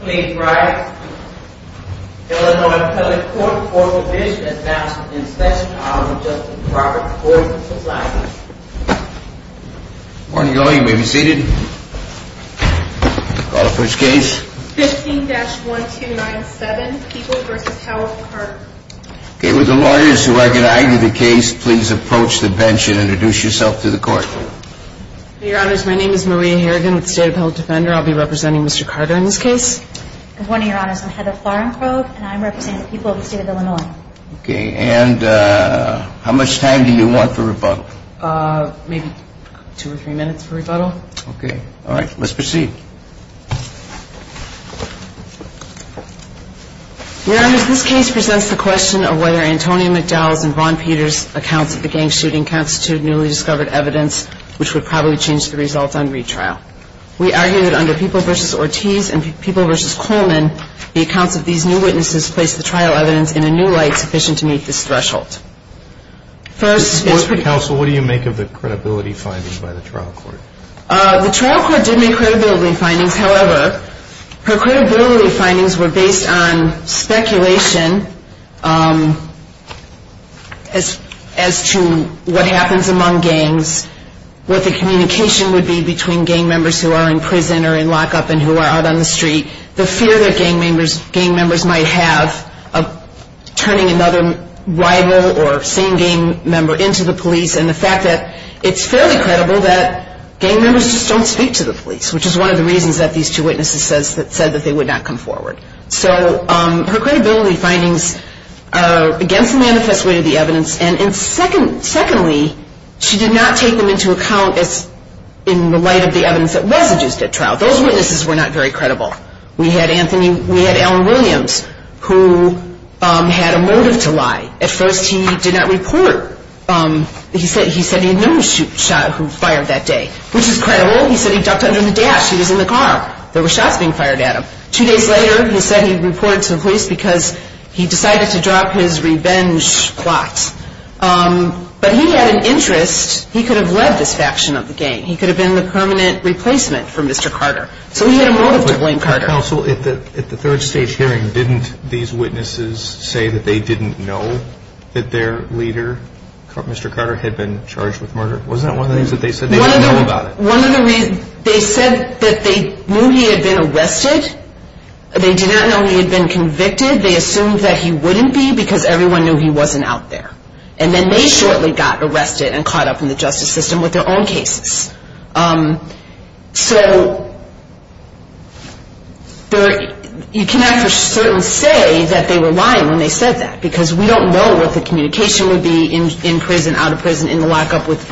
Please rise. Illinois Public Court Court of Appeals is now in session. Good morning, all. You may be seated. Call the first case. 15-1297, People v. Howell Park. Okay, would the lawyers who are going to argue the case please approach the bench and introduce yourself to the court. Your Honors, my name is Maria Harrigan with the State Appellate Defender. I'll be representing Mr. Carter in this case. Good morning, Your Honors. I'm Heather Flarenkrog, and I'm representing the people of the State of Illinois. Okay, and how much time do you want for rebuttal? Maybe two or three minutes for rebuttal. Okay. All right, let's proceed. Your Honors, this case presents the question of whether Antonio McDowell's and Vaughn Peters' accounts of the gang shooting constitute newly discovered evidence, which would probably change the results on retrial. We argue that under People v. Ortiz and People v. Coleman, the accounts of these new witnesses place the trial evidence in a new light sufficient to meet this threshold. First, Mr. Counsel, what do you make of the credibility findings by the trial court? The trial court did make credibility findings. However, her credibility findings were based on speculation as to what happens among gangs, what the communication would be between gang members who are in prison or in lockup and who are out on the street, the fear that gang members might have of turning another rival or same gang member into the police, and the fact that it's fairly credible that gang members just don't speak to the police, which is one of the reasons that these two witnesses said that they would not come forward. So her credibility findings are against the manifest way of the evidence, and secondly, she did not take them into account in the light of the evidence that was induced at trial. Those witnesses were not very credible. At first, he did not report. He said he had known the shot who fired that day, which is credible. He said he ducked under the dash. He was in the car. There were shots being fired at him. Two days later, he said he reported to the police because he decided to drop his revenge plot. But he had an interest. He could have led this faction of the gang. He could have been the permanent replacement for Mr. Carter. So he had a motive to blame Carter. Counsel, at the third stage hearing, didn't these witnesses say that they didn't know that their leader, Mr. Carter, had been charged with murder? Wasn't that one of the things that they said? They didn't know about it. One of the reasons, they said that they knew he had been arrested. They did not know he had been convicted. They assumed that he wouldn't be because everyone knew he wasn't out there. And then they shortly got arrested and caught up in the justice system with their own cases. So you cannot for certain say that they were lying when they said that because we don't know what the communication would be in prison, out of prison, in the lockup with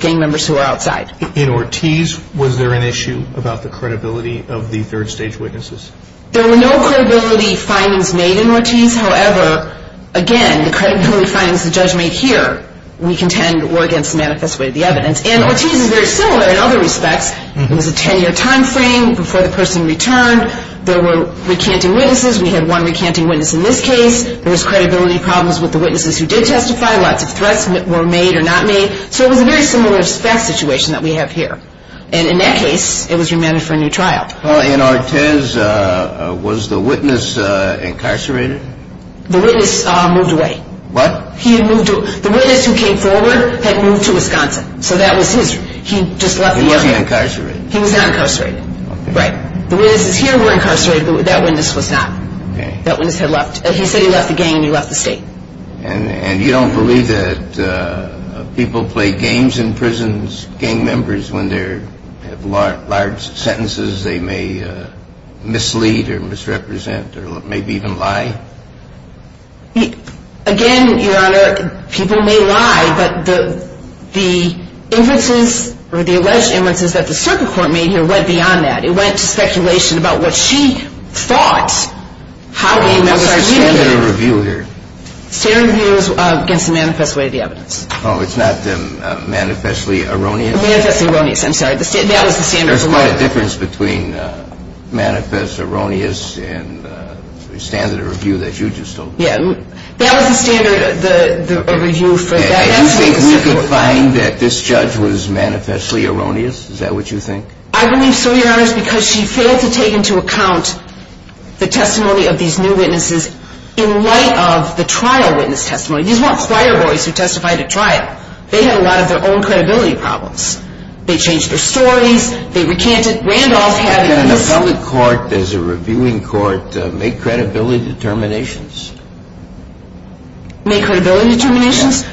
gang members who are outside. In Ortiz, was there an issue about the credibility of the third stage witnesses? There were no credibility findings made in Ortiz. However, again, the credibility findings the judge made here, we contend were against the manifest way of the evidence. And Ortiz is very similar in other respects. It was a 10-year time frame before the person returned. There were recanting witnesses. We had one recanting witness in this case. There was credibility problems with the witnesses who did testify. Lots of threats were made or not made. So it was a very similar situation that we have here. And in that case, it was remanded for a new trial. In Ortiz, was the witness incarcerated? The witness moved away. What? The witness who came forward had moved to Wisconsin. So that was his. He just left the area. He wasn't incarcerated. He was not incarcerated. Okay. Right. The witnesses here were incarcerated, but that witness was not. Okay. That witness had left. He said he left the gang and he left the state. And you don't believe that people play games in prisons, gang members, when there are large sentences they may mislead or misrepresent or maybe even lie? Again, Your Honor, people may lie, but the inferences or the alleged inferences that the circuit court made here went beyond that. It went to speculation about what she thought. That was standard of review here. Standard of review was against the manifest way of the evidence. Oh, it's not the manifestly erroneous? Manifestly erroneous. I'm sorry. That was the standard of review. What about the difference between manifest erroneous and standard of review that you just told me? Yeah. That was the standard of review for that incident. Do you think we could find that this judge was manifestly erroneous? Is that what you think? I believe so, Your Honor, because she failed to take into account the testimony of these new witnesses in light of the trial witness testimony. These weren't choir boys who testified at trial. They had a lot of their own credibility problems. They changed their stories. They recanted. Randolph had this. In a public court, as a reviewing court, make credibility determinations. Make credibility determinations? Yes.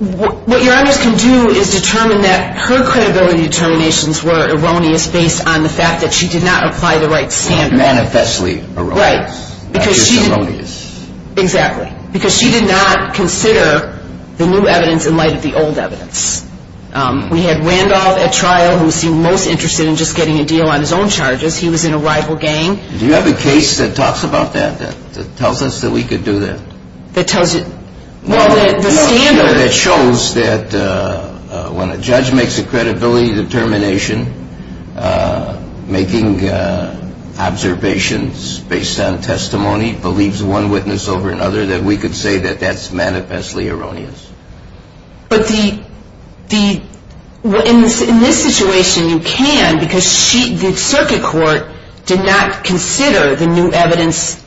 What Your Honor can do is determine that her credibility determinations were erroneous based on the fact that she did not apply the right standard. Manifestly erroneous. Right. Not just erroneous. Exactly. Because she did not consider the new evidence in light of the old evidence. We had Randolph at trial who seemed most interested in just getting a deal on his own charges. He was in a rival gang. Do you have a case that talks about that? That tells us that we could do that? That tells you? Well, the standard. The standard that shows that when a judge makes a credibility determination, making observations based on testimony, believes one witness over another, that we could say that that's manifestly erroneous. But in this situation you can because the circuit court did not consider the new evidence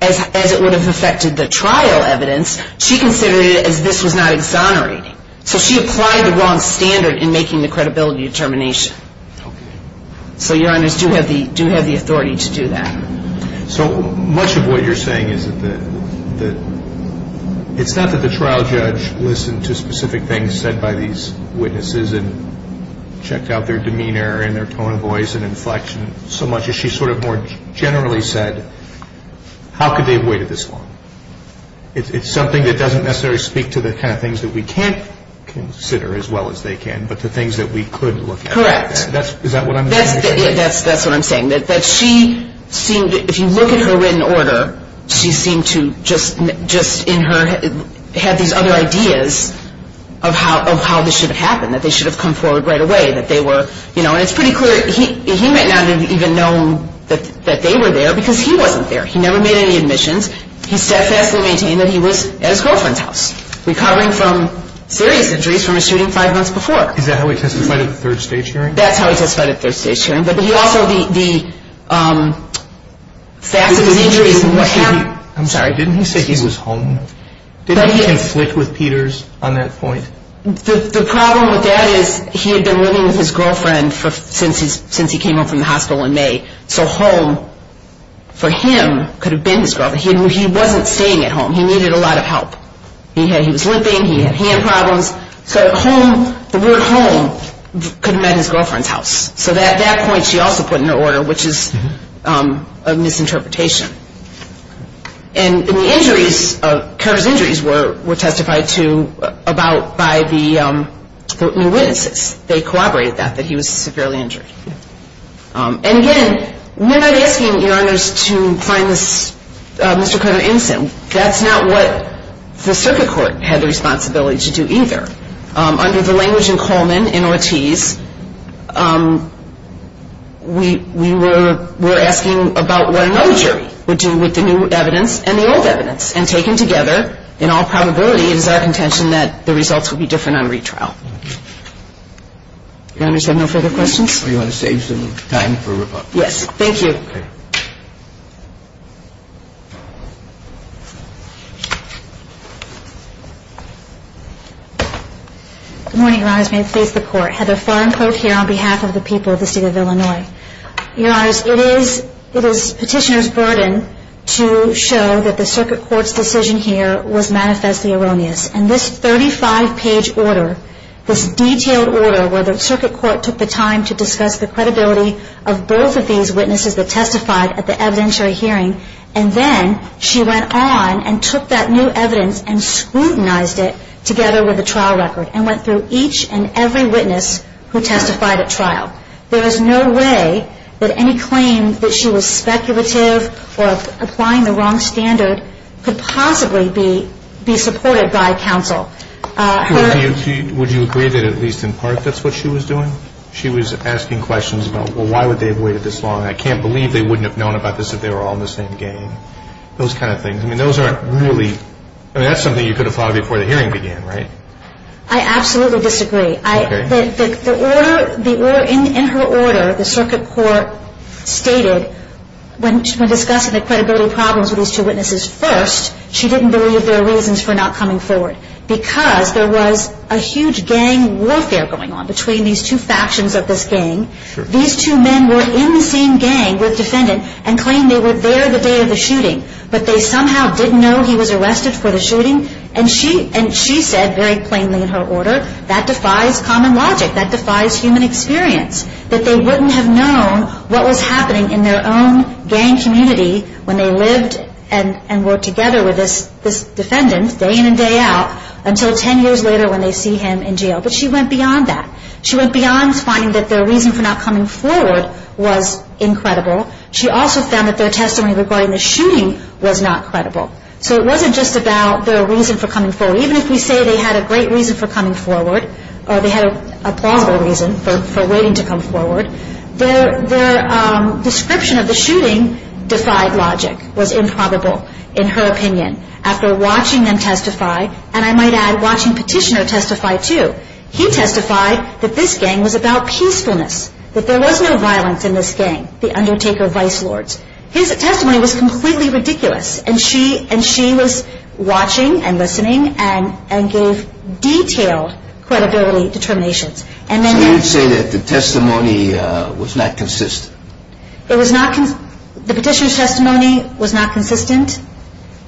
as it would have affected the trial evidence. She considered it as this was not exonerating. So she applied the wrong standard in making the credibility determination. Okay. So Your Honors do have the authority to do that. So much of what you're saying is that it's not that the trial judge listened to specific things said by these witnesses and checked out their demeanor and their tone of voice and inflection so much as she sort of more generally said how could they have waited this long? It's something that doesn't necessarily speak to the kind of things that we can't consider as well as they can, but the things that we could look at. Correct. Is that what I'm saying? That's what I'm saying. That she seemed, if you look at her written order, she seemed to just in her, had these other ideas of how this should have happened, that they should have come forward right away, that they were, you know, and it's pretty clear he might not have even known that they were there because he wasn't there. He never made any admissions. He steadfastly maintained that he was at his girlfriend's house, recovering from serious injuries from a shooting five months before. Is that how he testified at the third stage hearing? That's how he testified at the third stage hearing. But he also, the staffs of his injuries and what happened. I'm sorry, didn't he say he was home? Did he conflict with Peters on that point? The problem with that is he had been living with his girlfriend since he came home from the hospital in May, so home for him could have been his girlfriend. He wasn't staying at home. He needed a lot of help. He was limping. He had hand problems. So home, the word home could have meant his girlfriend's house. So that point she also put in her order, which is a misinterpretation. And the injuries, Carter's injuries were testified to about by the witnesses. They corroborated that, that he was severely injured. And again, we're not asking your honors to find this Mr. Carter incident. That's not what the circuit court had the responsibility to do either. Under the language in Coleman, in Ortiz, we were asking about what another jury would do with the new evidence and the old evidence. And taken together, in all probability, it is our contention that the results would be different on retrial. Your honors have no further questions? Do you want to save some time for rebuttal? Yes, thank you. Good morning, your honors. May it please the court. Heather Farncote here on behalf of the people of the state of Illinois. Your honors, it is petitioner's burden to show that the circuit court's decision here was manifestly erroneous. And this 35-page order, this detailed order where the circuit court took the time to discuss the credibility of both of these witnesses that testified at the evidentiary hearing, and then she went on and took that new evidence and scrutinized it together with the trial record and went through each and every witness who testified at trial. There is no way that any claim that she was speculative or applying the wrong standard could possibly be supported by counsel. Would you agree that at least in part that's what she was doing? She was asking questions about, well, why would they have waited this long? I can't believe they wouldn't have known about this if they were all in the same gang. Those kind of things. I mean, those aren't really, I mean, that's something you could have thought of before the hearing began, right? I absolutely disagree. In her order, the circuit court stated when discussing the credibility problems with these two witnesses first, she didn't believe there were reasons for not coming forward because there was a huge gang warfare going on between these two factions of this gang. These two men were in the same gang with defendant and claimed they were there the day of the shooting, but they somehow didn't know he was arrested for the shooting. And she said very plainly in her order, that defies common logic, that defies human experience, that they wouldn't have known what was happening in their own gang community when they lived and worked together with this defendant day in and day out until 10 years later when they see him in jail. But she went beyond that. She went beyond finding that their reason for not coming forward was incredible. She also found that their testimony regarding the shooting was not credible. So it wasn't just about their reason for coming forward. Even if we say they had a great reason for coming forward, or they had a plausible reason for waiting to come forward, their description of the shooting defied logic, was improbable in her opinion. After watching them testify, and I might add watching Petitioner testify too, he testified that this gang was about peacefulness, that there was no violence in this gang, the Undertaker Vice Lords. His testimony was completely ridiculous, and she was watching and listening and gave detailed credibility determinations. So you would say that the testimony was not consistent? The Petitioner's testimony was not consistent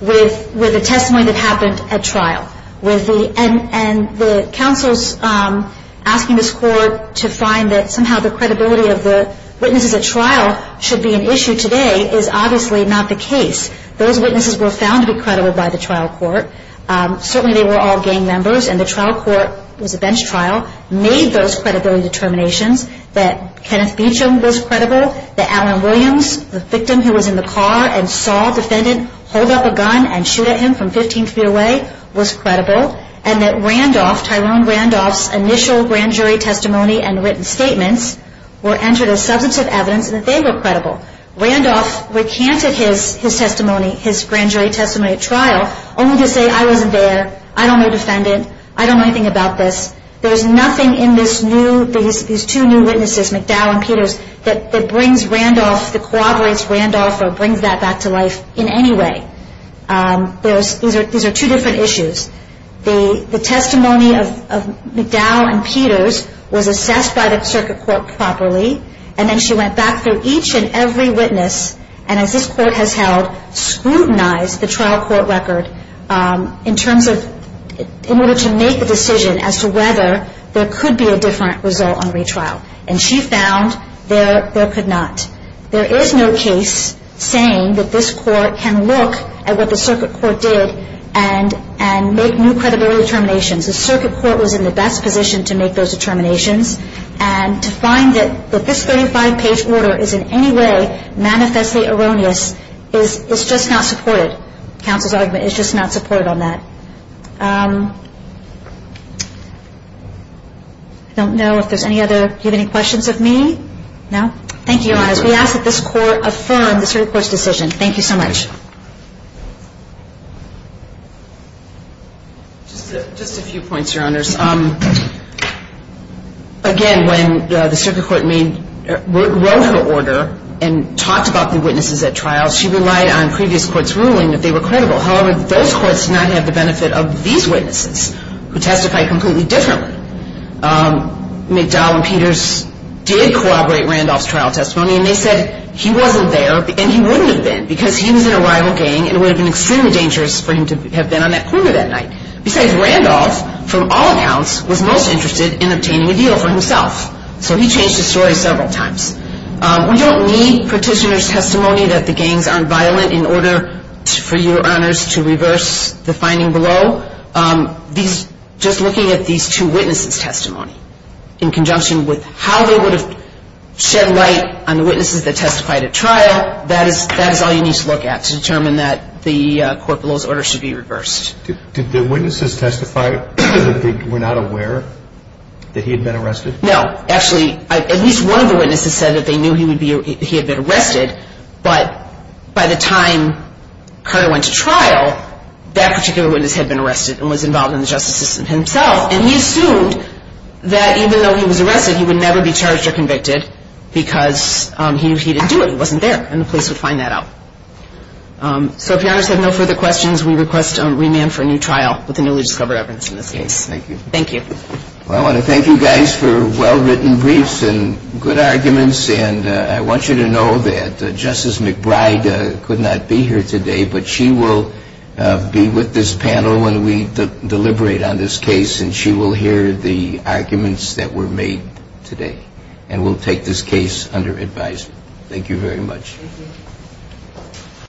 with the testimony that happened at trial. And the counsels asking this court to find that somehow the credibility of the witnesses at trial should be an issue today is obviously not the case. Those witnesses were found to be credible by the trial court. Certainly they were all gang members, and the trial court was a bench trial, made those credibility determinations that Kenneth Beecham was credible, that Alan Williams, the victim who was in the car and saw a defendant hold up a gun and shoot at him from 15 feet away was credible, and that Randolph, Tyrone Randolph's initial grand jury testimony and written statements were entered as substantive evidence and that they were credible. Randolph recanted his testimony, his grand jury testimony at trial, only to say I wasn't there, I don't know a defendant, I don't know anything about this. There's nothing in these two new witnesses, McDowell and Peters, that brings Randolph, that corroborates Randolph or brings that back to life in any way. These are two different issues. The testimony of McDowell and Peters was assessed by the circuit court properly, and then she went back through each and every witness, and as this court has held, scrutinized the trial court record in terms of, in order to make a decision as to whether there could be a different result on retrial. And she found there could not. There is no case saying that this court can look at what the circuit court did and make new credibility determinations. The circuit court was in the best position to make those determinations, and to find that this 35-page order is in any way manifestly erroneous is just not supported. Counsel's argument is just not supported on that. I don't know if there's any other, do you have any questions of me? No? Thank you, Your Honors. We ask that this court affirm the circuit court's decision. Thank you so much. Just a few points, Your Honors. Again, when the circuit court wrote her order and talked about the witnesses at trial, she relied on previous courts' ruling that they were credible. However, those courts did not have the benefit of these witnesses, who testified completely differently. McDowell and Peters did corroborate Randolph's trial testimony, and they said he wasn't there and he wouldn't have been because he was in a rival gang and it would have been extremely dangerous for him to have been on that corner that night. Besides, Randolph, from all accounts, was most interested in obtaining a deal for himself. So he changed his story several times. We don't need petitioner's testimony that the gangs aren't violent in order, for Your Honors, to reverse the finding below. Just looking at these two witnesses' testimony, in conjunction with how they would have shed light on the witnesses that testified at trial, that is all you need to look at to determine that the court below's order should be reversed. Did the witnesses testify that they were not aware that he had been arrested? No. Actually, at least one of the witnesses said that they knew he had been arrested, but by the time Carter went to trial, that particular witness had been arrested and was involved in the justice system himself, and he assumed that even though he was arrested, he would never be charged or convicted because he didn't do it, he wasn't there, and the police would find that out. So if Your Honors have no further questions, we request a remand for a new trial with the newly discovered evidence in this case. Thank you. Thank you. Well, I want to thank you guys for well-written briefs and good arguments, and I want you to know that Justice McBride could not be here today, but she will be with this panel when we deliberate on this case, and she will hear the arguments that were made today, and will take this case under advisement. Thank you very much. Thank you.